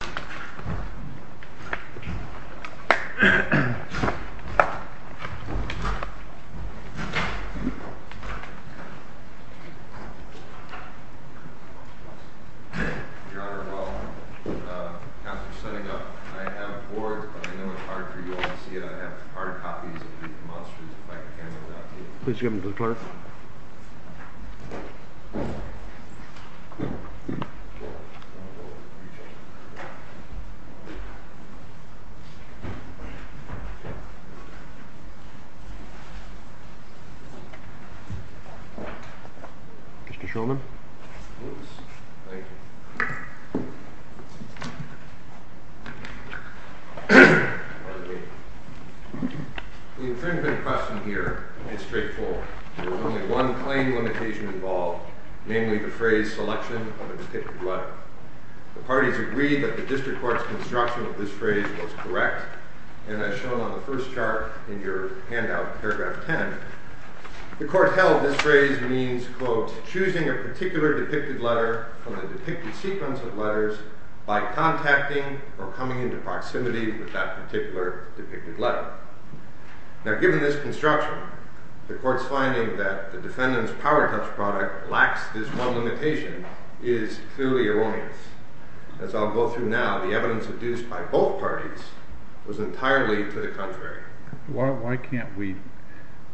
Your Honor, well, after setting up, I have boards, but I know it's hard for you all to see it. I have hard copies of the monsters, if I can get them out to you. Please give them to the clerk. Mr. Shulman? The infringement question here is straightforward. There is only one plain limitation involved, namely the phrase selection of a particular letter. The parties agreed that the district court's construction of this phrase was correct, and as shown on the first chart in your handout, paragraph 10, the court held this phrase means, quote, choosing a particular depicted letter from a depicted sequence of letters by contacting or coming into proximity with that particular depicted letter. Now, given this construction, the court's finding that the defendant's power touch product lacks this one limitation is clearly erroneous. As I'll go through now, the evidence produced by both parties was entirely to the contrary. Why can't we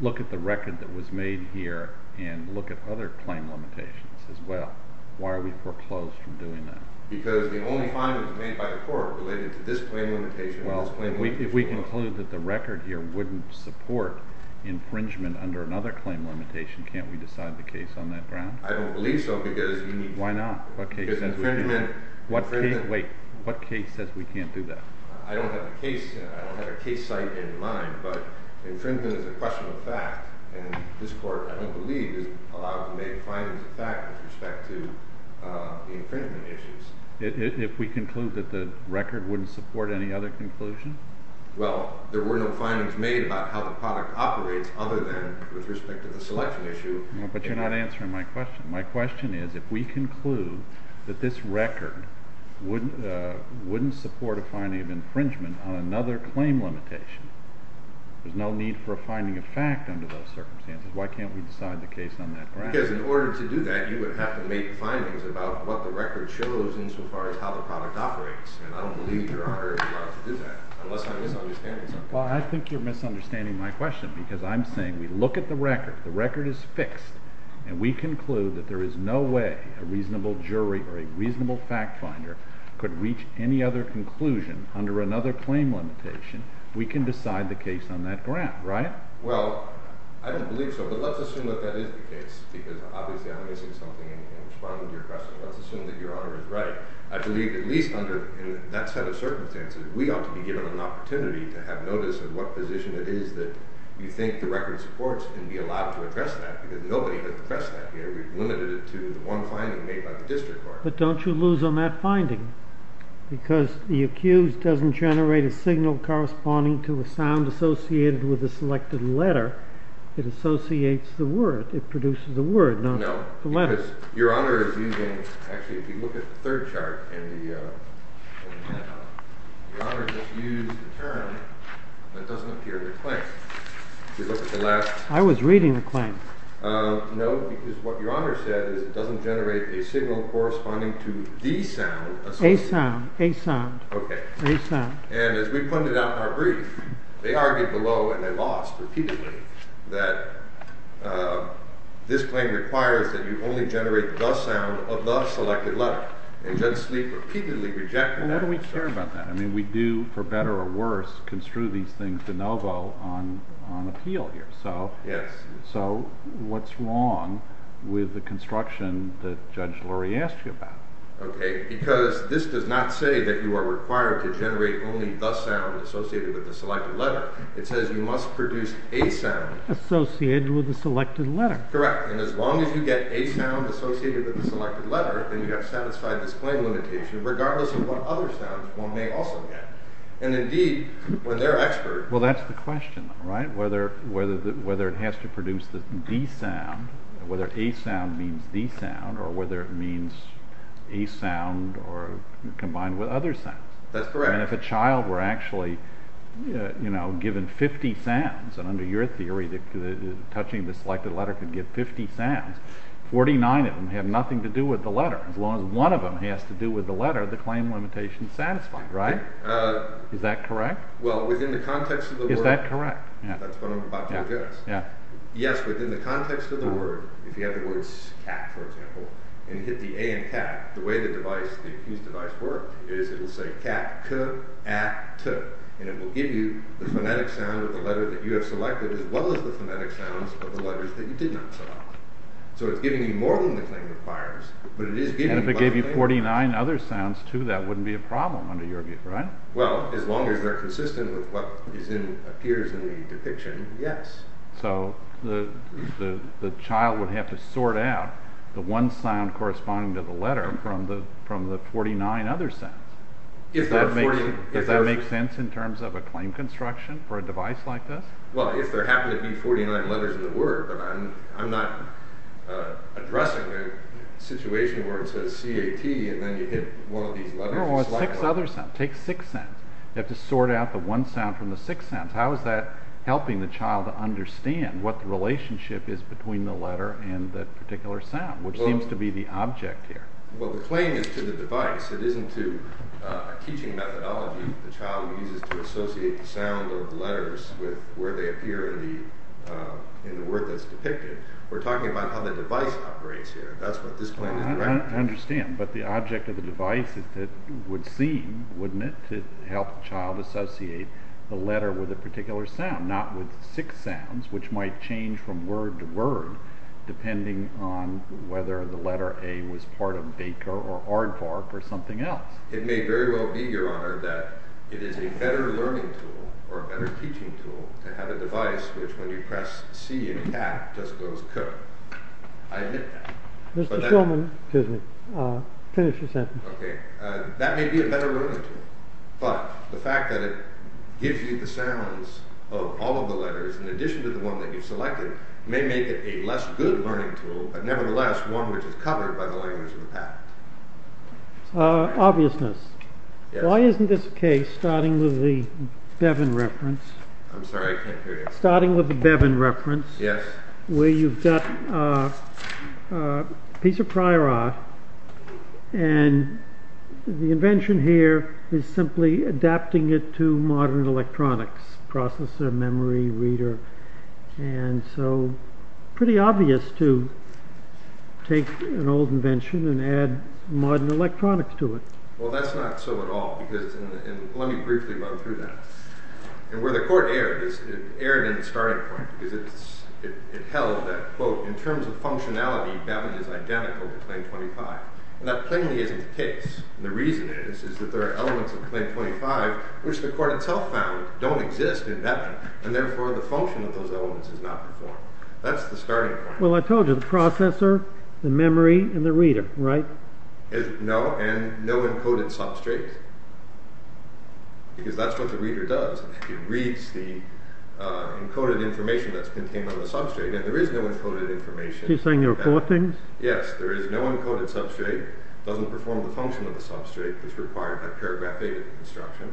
look at the record that was made here and look at other plain limitations as well? Why are we foreclosed from doing that? Because the only findings made by the court related to this plain limitation and this plain limitation alone. Well, if we conclude that the record here wouldn't support infringement under another claim limitation, can't we decide the case on that ground? I don't believe so, because you need to. Why not? What case says we can't? Because infringement… Wait. What case says we can't do that? I don't have a case, I don't have a case site in mind, but infringement is a question of fact, and this court, I don't believe, is allowed to make findings of fact with respect to the infringement issues. If we conclude that the record wouldn't support any other conclusion? Well, there were no findings made about how the product operates other than with respect to the selection issue. But you're not answering my question. My question is, if we conclude that this record wouldn't support a finding of infringement on another claim limitation, there's no need for a finding of fact under those circumstances, why can't we decide the case on that ground? Because in order to do that, you would have to make findings about what the record shows insofar as how the product operates, and I don't believe Your Honor is allowed to do that, unless I'm misunderstanding something. Well, I think you're misunderstanding my question, because I'm saying we look at the record, the record is fixed, and we conclude that there is no way a reasonable jury or a reasonable fact finder could reach any other conclusion under another claim limitation, we can decide the case on that ground, right? Well, I don't believe so, but let's assume that that is the case, because obviously I'm missing something in responding to your question. Let's assume that Your Honor is right. I believe at least under that set of circumstances, we ought to be given an opportunity to have notice of what position it is that you think the record supports and be allowed to address that, because nobody has addressed that here. We've limited it to the one finding made by the district court. But don't you lose on that finding, because the accused doesn't generate a signal corresponding to a sound associated with a selected letter. It associates the word. It produces a word, not a letter. No, because Your Honor is using, actually if you look at the third chart, Your Honor just used a term that doesn't appear in the claim. No, because what Your Honor said is it doesn't generate a signal corresponding to the sound associated. A sound. Okay. A sound. And as we pointed out in our brief, they argued below, and they lost repeatedly, that this claim requires that you only generate the sound of the selected letter, and Judge Sleep repeatedly rejected that. And why do we care about that? I mean, we do, for better or worse, construe these things de novo on appeal here. Yes. So what's wrong with the construction that Judge Lurie asked you about? Okay, because this does not say that you are required to generate only the sound associated with the selected letter. It says you must produce a sound. Associated with the selected letter. Correct. And as long as you get a sound associated with the selected letter, then you have satisfied this claim limitation, regardless of what other sounds one may also get. And indeed, when they're experts… Well, that's the question, right? Whether it has to produce the d sound, whether a sound means the sound, or whether it means a sound combined with other sounds. That's correct. And if a child were actually given 50 sounds, and under your theory, touching the selected letter could give 50 sounds, 49 of them have nothing to do with the letter. As long as one of them has to do with the letter, the claim limitation is satisfied, right? Is that correct? Well, within the context of the word… Is that correct? That's what I'm about to address. Yes, within the context of the word, if you have the words cat, for example, and you hit the A in cat, the way the device, the accused device works is it will say cat, c-a-t, and it will give you the phonetic sound of the letter that you have selected as well as the phonetic sounds of the letters that you did not select. So it's giving you more than the claim requires, but it is giving you… And if it gave you 49 other sounds too, that wouldn't be a problem under your view, right? Well, as long as they're consistent with what appears in the depiction, yes. So the child would have to sort out the one sound corresponding to the letter from the 49 other sounds. Does that make sense in terms of a claim construction for a device like this? Well, if there happen to be 49 letters in the word, but I'm not addressing a situation where it says c-a-t and then you hit one of these letters… Take six other sounds. Take six sounds. You have to sort out the one sound from the six sounds. How is that helping the child understand what the relationship is between the letter and the particular sound, which seems to be the object here? Well, the claim is to the device. It isn't to a teaching methodology the child uses to associate the sound of letters with where they appear in the word that's depicted. We're talking about how the device operates here. That's what this claim is, right? I understand. But the object of the device would seem, wouldn't it, to help the child associate the letter with a particular sound, not with six sounds, which might change from word to word, depending on whether the letter a was part of baker or aardvark or something else. It may very well be, Your Honor, that it is a better learning tool or a better teaching tool to have a device which when you press c-a-t does those cook. I admit that. Mr. Shulman, finish your sentence. That may be a better learning tool, but the fact that it gives you the sounds of all of the letters in addition to the one that you've selected may make it a less good learning tool, but nevertheless one which is covered by the language of the patent. Obviousness. Why isn't this the case, starting with the Bevan reference, where you've got a piece of prior art and the invention here is simply adapting it to modern electronics, processor, memory, reader. And so pretty obvious to take an old invention and add modern electronics to it. Well, that's not so at all, because let me briefly run through that. And where the court erred, it erred in the starting point, because it held that, quote, in terms of functionality, Bevan is identical to Claim 25. And that plainly isn't the case. And the reason is that there are elements of Claim 25 which the court itself found don't exist in Bevan, and therefore the function of those elements is not performed. That's the starting point. Well, I told you, the processor, the memory, and the reader, right? No, and no encoded substrate, because that's what the reader does. It reads the encoded information that's contained on the substrate, and there is no encoded information. You're saying there are four things? Yes, there is no encoded substrate. It doesn't perform the function of the substrate that's required by paragraph data construction.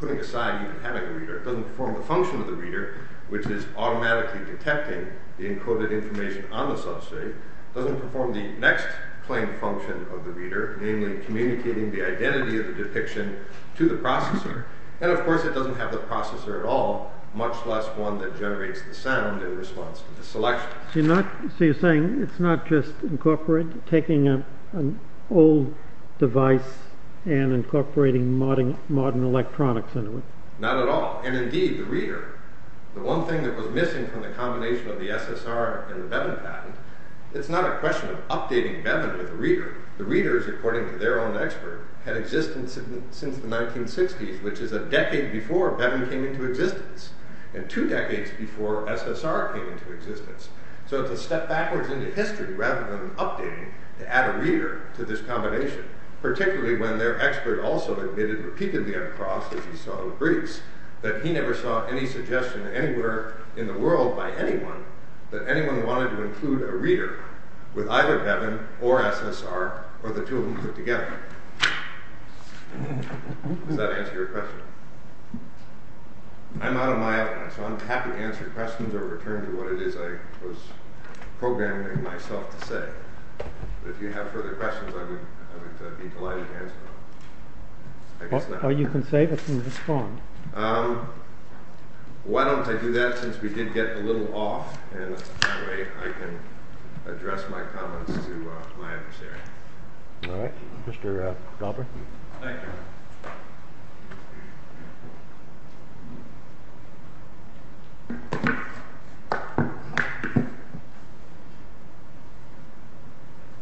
Putting aside even having a reader, it doesn't perform the function of the reader, which is automatically detecting the encoded information on the substrate. It doesn't perform the next plain function of the reader, namely communicating the identity of the depiction to the processor. And, of course, it doesn't have the processor at all, much less one that generates the sound in response to the selection. So you're saying it's not just taking an old device and incorporating modern electronics into it? Not at all. And, indeed, the reader, the one thing that was missing from the combination of the SSR and the Bevan patent, it's not a question of updating Bevan with a reader. The readers, according to their own expert, had existence since the 1960s, which is a decade before Bevan came into existence, and two decades before SSR came into existence. So it's a step backwards into history rather than updating to add a reader to this combination, particularly when their expert also admitted repeatedly at a cross, as he saw in Greece, that he never saw any suggestion anywhere in the world by anyone that anyone wanted to include a reader with either Bevan or SSR or the two of them put together. Does that answer your question? I'm out of my element, so I'm happy to answer questions or return to what it is I was programming myself to say. But if you have further questions, I would be delighted to answer them. Or you can say, but you can respond. Why don't I do that, since we did get a little off, and that way I can address my comments to my adversary. All right. Mr. Glauber? Thank you.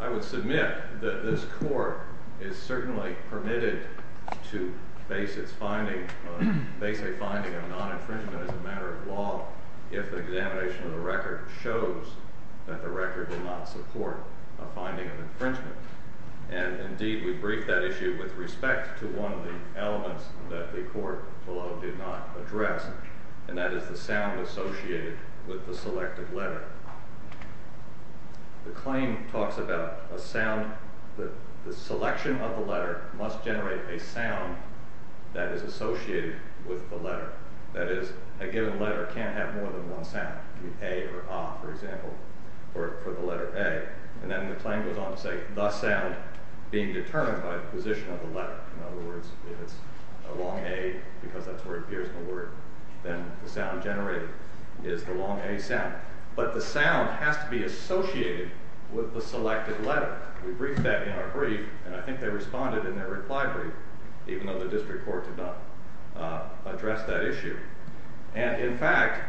I would submit that this Court is certainly permitted to base a finding of non-infringement as a matter of law if an examination of the record shows that the record will not support a finding of infringement. And, indeed, we briefed that issue with respect to one of the elements that the Court below did not address, and that is the sound associated with the selected letter. The claim talks about a sound that the selection of the letter must generate a sound that is associated with the letter. That is, a given letter can't have more than one sound. A or ah, for example, for the letter A. And then the claim goes on to say the sound being determined by the position of the letter. In other words, if it's a long A, because that's where it appears in the word, then the sound generated is the long A sound. But the sound has to be associated with the selected letter. We briefed that in our brief, and I think they responded in their reply brief, even though the District Court did not address that issue. And, in fact,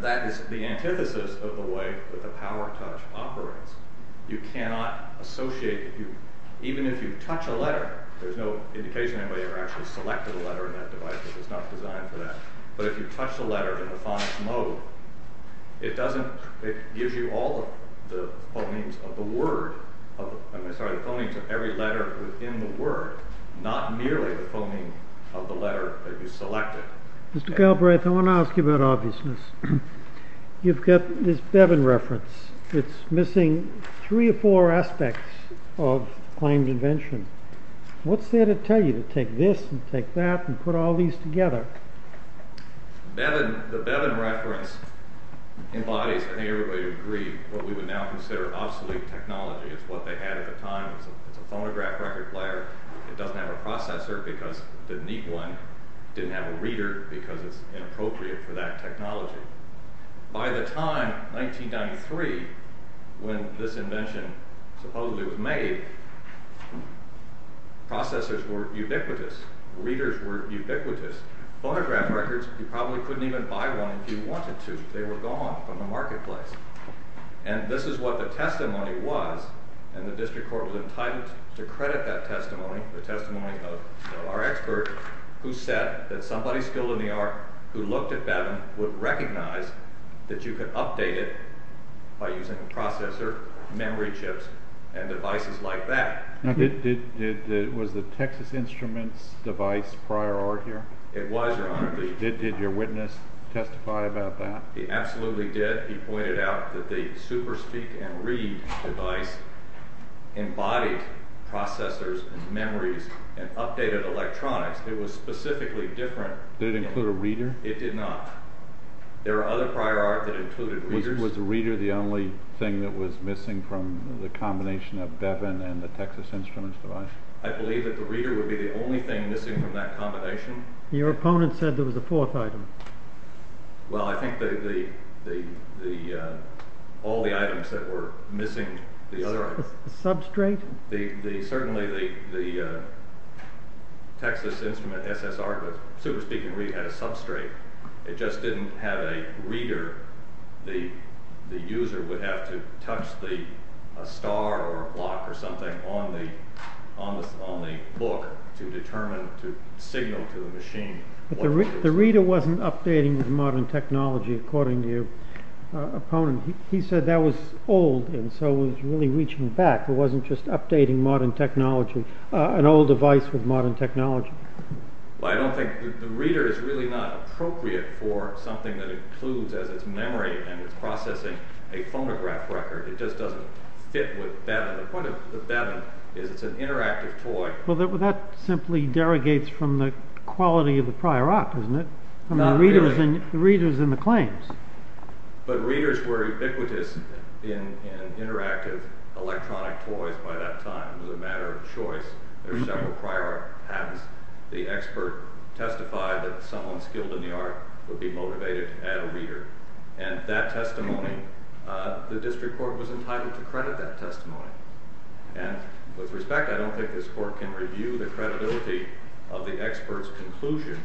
that is the antithesis of the way that the PowerTouch operates. You cannot associate, even if you touch a letter, there's no indication anybody ever actually selected a letter in that device because it's not designed for that, but if you touch the letter in the phonics mode, it gives you all the phonemes of the word, I'm sorry, the phonemes of every letter within the word, not merely the phoneme of the letter that you selected. Mr. Galbraith, I want to ask you about obviousness. You've got this Bevan reference. It's missing three or four aspects of claimed invention. What's there to tell you to take this and take that and put all these together? The Bevan reference embodies, I think everybody would agree, what we would now consider obsolete technology. It's what they had at the time. It's a phonograph record player. It doesn't have a processor because it didn't need one. It didn't have a reader because it's inappropriate for that technology. By the time, 1993, when this invention supposedly was made, processors were ubiquitous. Readers were ubiquitous. Phonograph records, you probably couldn't even buy one if you wanted to. They were gone from the marketplace. This is what the testimony was. The district court was entitled to credit that testimony, the testimony of our expert who said that somebody skilled in the art who looked at Bevan would recognize that you could update it by using a processor, memory chips, and devices like that. Was the Texas Instruments device prior art here? It was, Your Honor. Did your witness testify about that? He absolutely did. He pointed out that the SuperSpeak and Read device embodied processors and memories and updated electronics. It was specifically different. Did it include a reader? It did not. There are other prior art that included readers. Was the reader the only thing that was missing from the combination of Bevan and the Texas Instruments device? I believe that the reader would be the only thing missing from that combination. Your opponent said there was a fourth item. Well, I think all the items that were missing. The substrate? Certainly the Texas Instruments SSR, the SuperSpeak and Read had a substrate. It just didn't have a reader. The user would have to touch a star or a block or something on the book to determine, to signal to the machine. The reader wasn't updating with modern technology, according to your opponent. He said that was old and so it was really reaching back. It wasn't just updating an old device with modern technology. I don't think the reader is really not appropriate for something that includes, as it's memory and it's processing, a phonograph record. It just doesn't fit with Bevan. The point of Bevan is it's an interactive toy. Well, that simply derogates from the quality of the prior art, doesn't it? The reader is in the claims. But readers were ubiquitous in interactive electronic toys by that time. It was a matter of choice. There were several prior patents. The expert testified that someone skilled in the art would be motivated to add a reader. That testimony, the district court was entitled to credit that testimony. With respect, I don't think this court can review the credibility of the expert's conclusion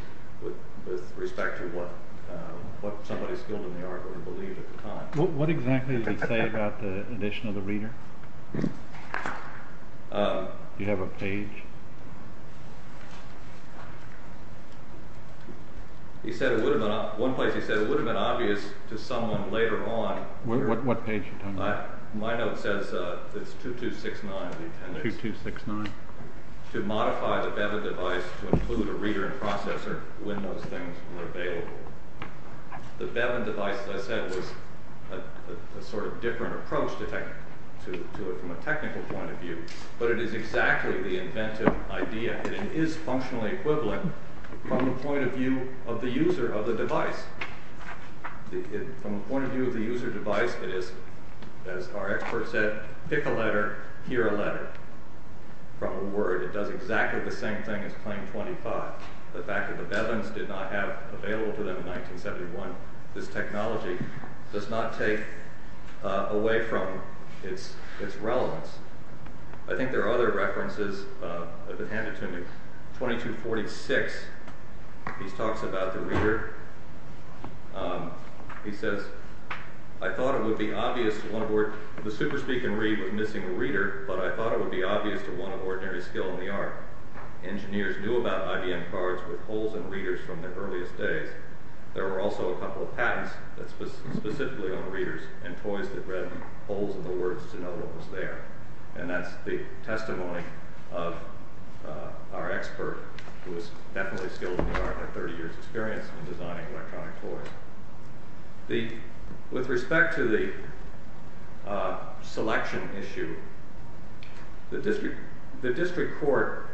with respect to what somebody skilled in the art would have believed at the time. What exactly did he say about the addition of the reader? Do you have a page? He said it would have been obvious to someone later on. What page are you talking about? My note says it's 2269. 2269. To modify the Bevan device to include a reader and processor when those things were available. The Bevan device, as I said, was a sort of different approach to it from a technical point of view, but it is exactly the inventive idea. It is functionally equivalent from the point of view of the user of the device. From the point of view of the user of the device, it is, as our expert said, pick a letter, hear a letter from a word. It does exactly the same thing as claim 25. The fact that the Bevans did not have available to them in 1971, this technology does not take away from its relevance. I think there are other references. I've been handed to 2246. He talks about the reader. He says, I thought it would be obvious to one of the ordinary skill in the art. Engineers knew about IBM cards with holes in readers from their earliest days. There were also a couple of patents specifically on readers and toys that read holes in the words to know what was there. That's the testimony of our expert who was definitely skilled in the art and 30 years experience in designing electronic toys. With respect to the selection issue, the district court's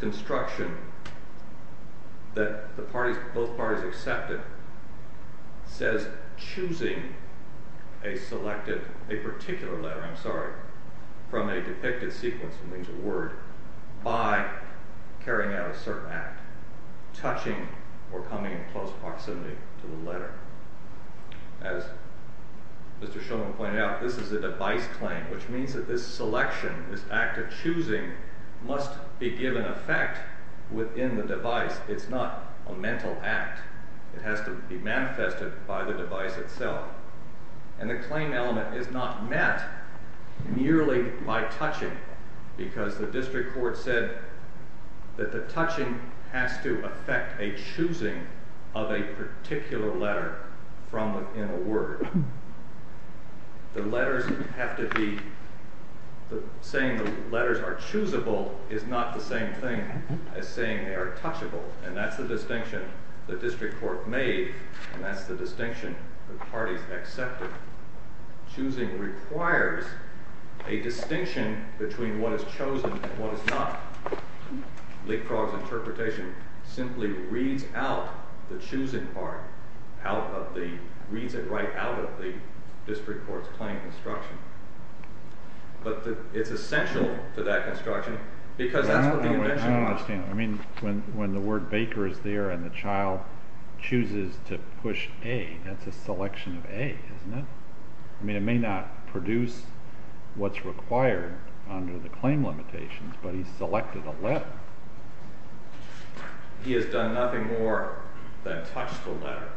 construction that both parties accepted says choosing a particular letter from a depicted sequence by carrying out a certain act, touching or coming in close proximity to the letter. As Mr. Shulman pointed out, this is a device claim, which means that this selection, this act of choosing, must be given effect within the device. It's not a mental act. It has to be manifested by the device itself. The claim element is not met merely by touching because the district court said that the touching has to affect a choosing of a particular letter from within a word. Saying the letters are choosable is not the same thing as saying they are touchable. That's the distinction. That's the distinction the district court made. That's the distinction the parties accepted. Choosing requires a distinction between what is chosen and what is not. Leapfrog's interpretation simply reads out the choosing part, reads it right out of the district court's claim construction. But it's essential to that construction because that's what the invention was. I don't understand. I mean, when the word baker is there and the child chooses to push A, that's a selection of A, isn't it? I mean, it may not produce what's required under the claim limitations, but he selected a letter. He has done nothing more than touch the letter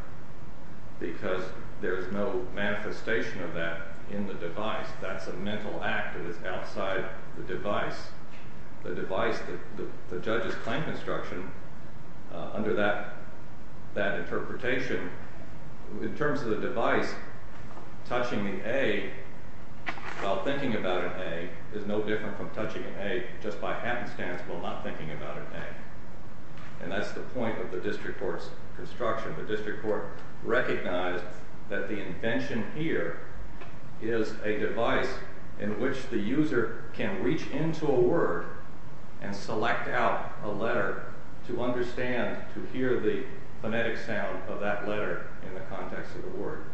because there is no manifestation of that in the device. That's a mental act that is outside the device. The device, the judge's claim construction under that interpretation, in terms of the device, touching the A while thinking about an A is no different from touching an A just by happenstance while not thinking about an A. And that's the point of the district court's construction. The district court recognized that the invention here is a device in which the user can reach into a word and select out a letter to understand, to hear the phonetic sound of that letter in the context of the word.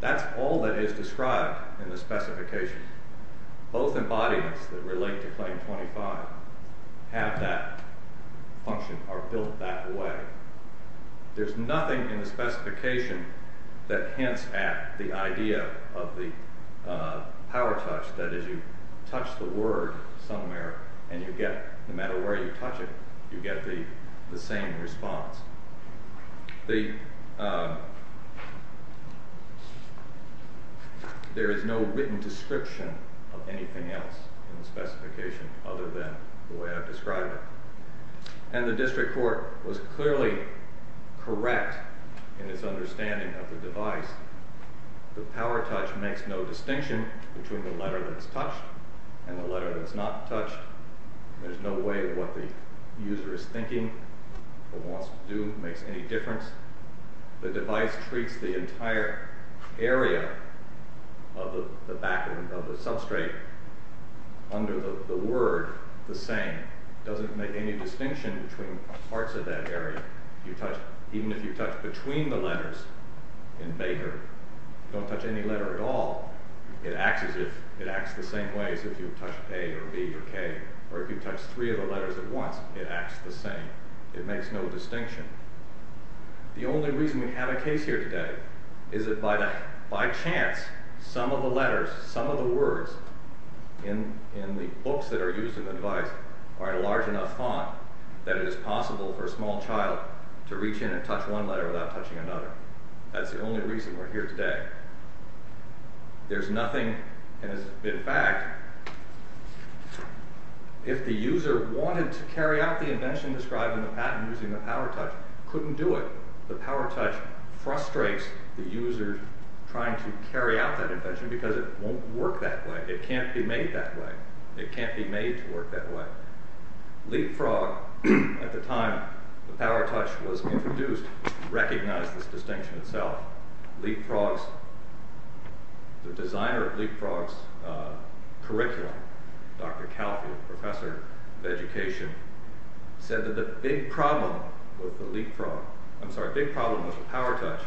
That's all that is described in the specification. Both embodiments that relate to Claim 25 have that function, are built that way. There's nothing in the specification that hints at the idea of the power touch, that is, you touch the word somewhere and you get, no matter where you touch it, you get the same response. There is no written description of anything else in the specification other than the way I've described it. And the district court was clearly correct in its understanding of the device. The power touch makes no distinction between the letter that's touched and the letter that's not touched. There's no way what the user is thinking or wants to do makes any difference. The device treats the entire area of the back of the substrate under the word the same. It doesn't make any distinction between parts of that area. Even if you touch between the letters in Baker, you don't touch any letter at all. It acts the same way as if you touch A or B or K. Or if you touch three of the letters at once, it acts the same. It makes no distinction. The only reason we have a case here today is that by chance, some of the letters, some of the words in the books that are used in the device are in a large enough font that it is possible for a small child to reach in and touch one letter without touching another. That's the only reason we're here today. There's nothing, in fact, if the user wanted to carry out the invention described in the patent using the power touch, couldn't do it. The power touch frustrates the user trying to carry out that invention because it won't work that way. It can't be made that way. It can't be made to work that way. LeapFrog, at the time the power touch was introduced, recognized this distinction itself. LeapFrog's, the designer of LeapFrog's curriculum, Dr. Calfield, professor of education, said that the big problem with the LeapFrog, I'm sorry, the big problem with the power touch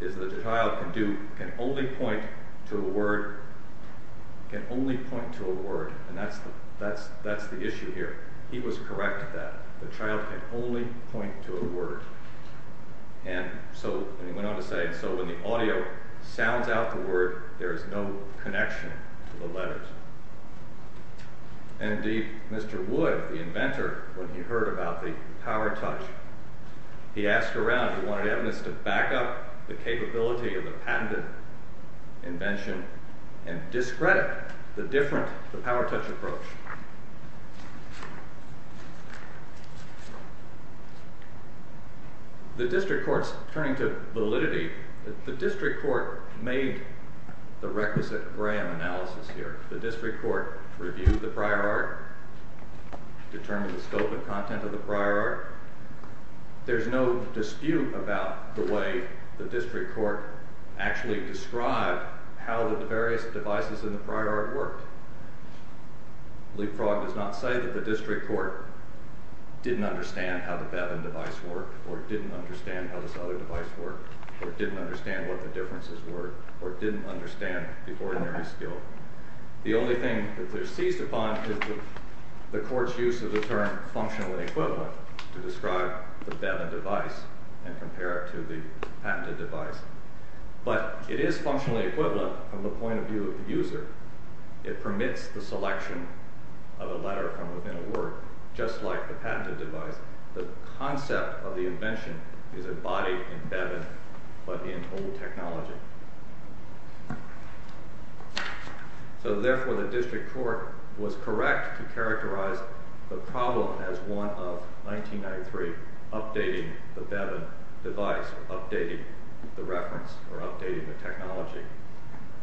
is that the child can only point to a word. Can only point to a word. That's the issue here. He was correct at that. The child can only point to a word. He went on to say, so when the audio sounds out the word, there is no connection to the letters. Indeed, Mr. Wood, the inventor, when he heard about the power touch, he asked around, he wanted evidence to back up the capability of the patented invention and discredit the different, the power touch approach. The district court's turning to validity. The district court made the requisite Graham analysis here. The district court reviewed the prior art, determined the scope and content of the prior art. There's no dispute about the way the district court actually described how the various devices in the prior art worked. LeapFrog does not say that the district court didn't understand how the Bevan device worked or didn't understand how this other device worked or didn't understand what the differences were or didn't understand the ordinary skill. The only thing that they're seized upon is the court's use of the term functionally equivalent to describe the Bevan device and compare it to the patented device. But it is functionally equivalent from the point of view of the user. It permits the selection of a letter from within a word, just like the patented device. The concept of the invention is embodied in Bevan, but in old technology. So therefore the district court was correct to characterize the problem as one of 1993 updating the Bevan device, updating the reference or updating the technology.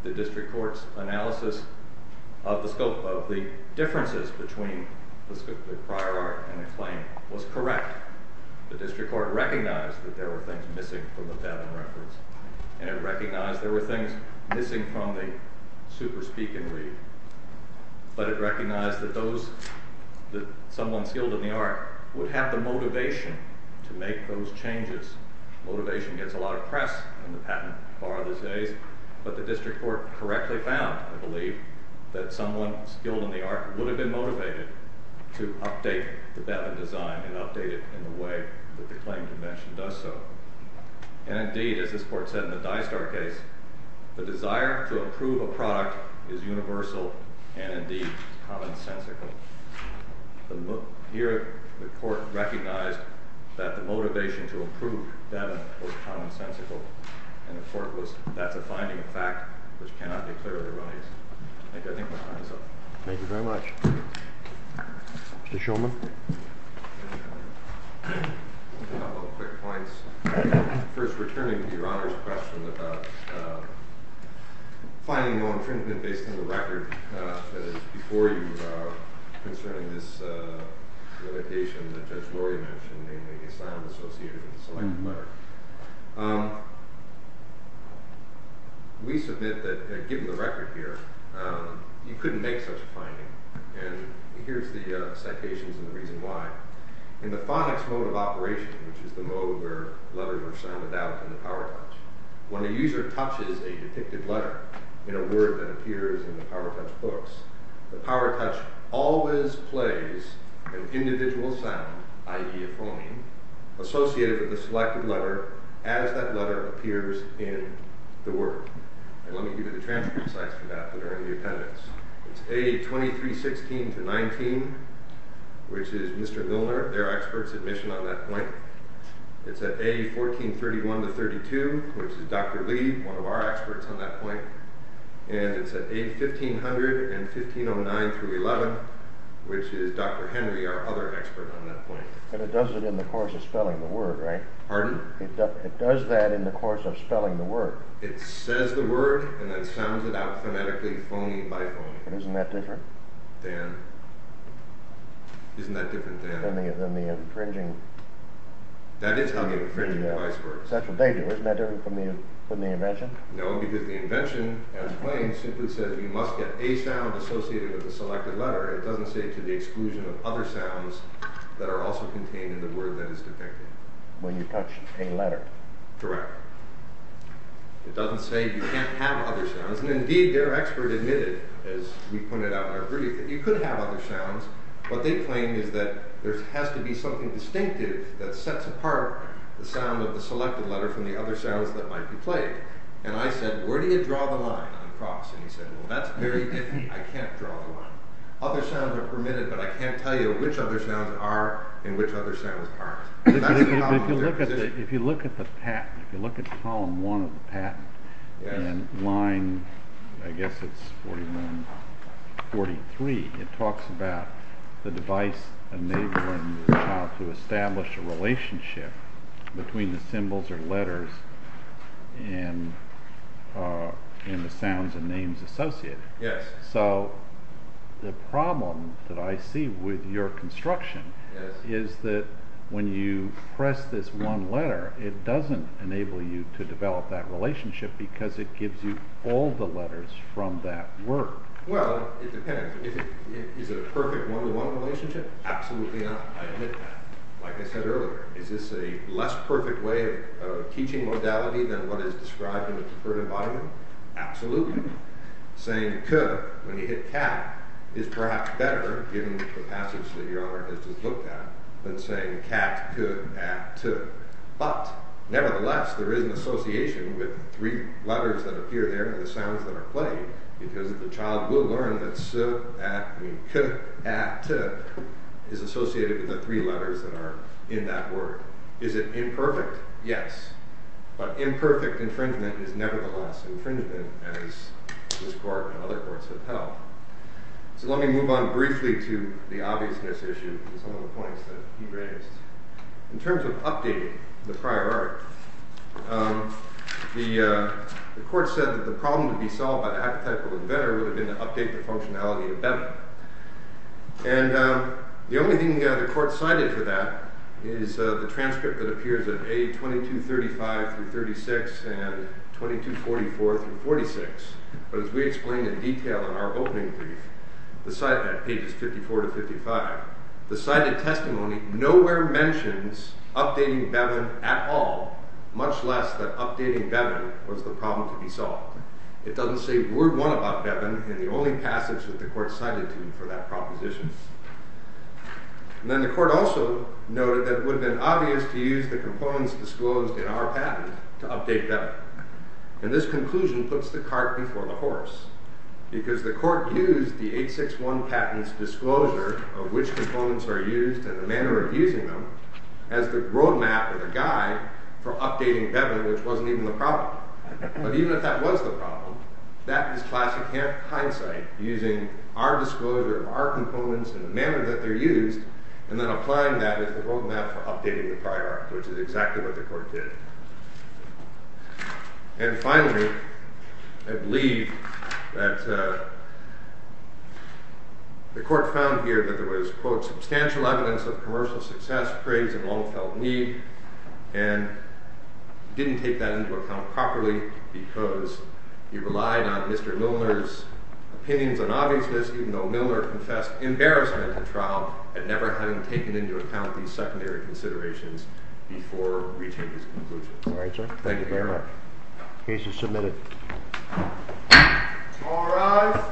The district court's analysis of the differences between the prior art and the claim was correct. The district court recognized that there were things missing from the Bevan reference, and it recognized there were things missing from the super-speak-and-read. But it recognized that someone skilled in the art would have the motivation to make those changes. Motivation gets a lot of press in the patent bar these days, but the district court correctly found, I believe, that someone skilled in the art would have been motivated to update the Bevan design and update it in the way that the claim convention does so. And indeed, as this court said in the Dystar case, the desire to approve a product is universal and indeed commonsensical. Here the court recognized that the motivation to approve Bevan was commonsensical, and the court was, that's a finding of fact which cannot be clearly erroneous. I think my time is up. Thank you very much. Mr. Shulman. A couple of quick points. First, returning to Your Honor's question about finding no infringement based on the record that is before you concerning this limitation that Judge Lori mentioned, namely the assignment associated with the selected letter. We submit that, given the record here, you couldn't make such a finding. And here's the citations and the reason why. In the phonics mode of operation, which is the mode where letters are sounded out in the PowerTouch, when a user touches a depicted letter in a word that appears in the PowerTouch books, the PowerTouch always plays an individual sound, i.e. a phoneme, associated with the selected letter as that letter appears in the word. And let me give you the transcripts for that that are in the appendix. It's A2316-19, which is Mr. Milner, their expert's admission on that point. It's at A1431-32, which is Dr. Lee, one of our experts on that point. And it's at A1500-1509-11, which is Dr. Henry, our other expert on that point. And it does it in the course of spelling the word, right? Pardon? It does that in the course of spelling the word. It says the word and then sounds it out phonetically, phoneme by phoneme. But isn't that different? Dan? Isn't that different, Dan? Than the infringing... That is how the infringing device works. That's what they do. Isn't that different from the invention? No, because the invention, as claimed, simply says you must get a sound associated with the selected letter. It doesn't say to the exclusion of other sounds that are also contained in the word that is depicted. When you touch a letter. Correct. It doesn't say you can't have other sounds. And indeed, their expert admitted, as we pointed out in our brief, that you could have other sounds. What they claim is that there has to be something distinctive that sets apart the sound of the selected letter from the other sounds that might be played. And I said, where do you draw the line on the cross? And he said, well, that's very difficult. I can't draw the line. Other sounds are permitted, but I can't tell you which other sounds are and which other sounds aren't. If you look at the patent, if you look at column one of the patent, in line, I guess it's 41, 43, it talks about the device enabling the child to establish a relationship between the symbols or letters and the sounds and names associated. So the problem that I see with your construction is that when you press this one letter, it doesn't enable you to develop that relationship because it gives you all the letters from that word. Well, it depends. Is it a perfect one-to-one relationship? Absolutely not. I admit that. Like I said earlier, is this a less perfect way of teaching modality than what is described in a preferred environment? Absolutely not. Saying could, when you hit cat, is perhaps better, given the passage that Your Honor has just looked at, than saying cat, could, at, to. But nevertheless, there is an association with the three letters that appear there and the sounds that are played because the child will learn that could, at, to is associated with the three letters that are in that word. Is it imperfect? Yes. But imperfect infringement is nevertheless infringement, as this Court and other courts have held. So let me move on briefly to the obviousness issue and some of the points that he raised. In terms of updating the prior art, the Court said that the problem to be solved by the archetypal inventor would have been to update the functionality of Benham. And the only thing the Court cited for that is the transcript that appears at A. 2235-36 and A. 2244-46. But as we explained in detail in our opening brief, at pages 54-55, the cited testimony nowhere mentions updating Benham at all, much less that updating Benham was the problem to be solved. It doesn't say word one about Benham in the only passage that the Court cited to you for that proposition. And then the Court also noted that it would have been obvious to use the components disclosed in our patent to update Benham. And this conclusion puts the cart before the horse, because the Court used the 861 patent's disclosure of which components are used and the manner of using them as the road map or the guide for updating Benham, which wasn't even the problem. But even if that was the problem, that is classic hindsight, using our disclosure of our components and the manner that they're used and then applying that as the road map for updating the prior art, which is exactly what the Court did. And finally, I believe that the Court found here that there was, quote, substantial evidence of commercial success, praise, and long-felt need, and didn't take that into account properly because he relied on Mr. Milner's opinions on obviousness, even though Milner confessed embarrassment to trial at never having taken into account these secondary considerations before reaching his conclusion. Thank you very much. The case is submitted. All rise.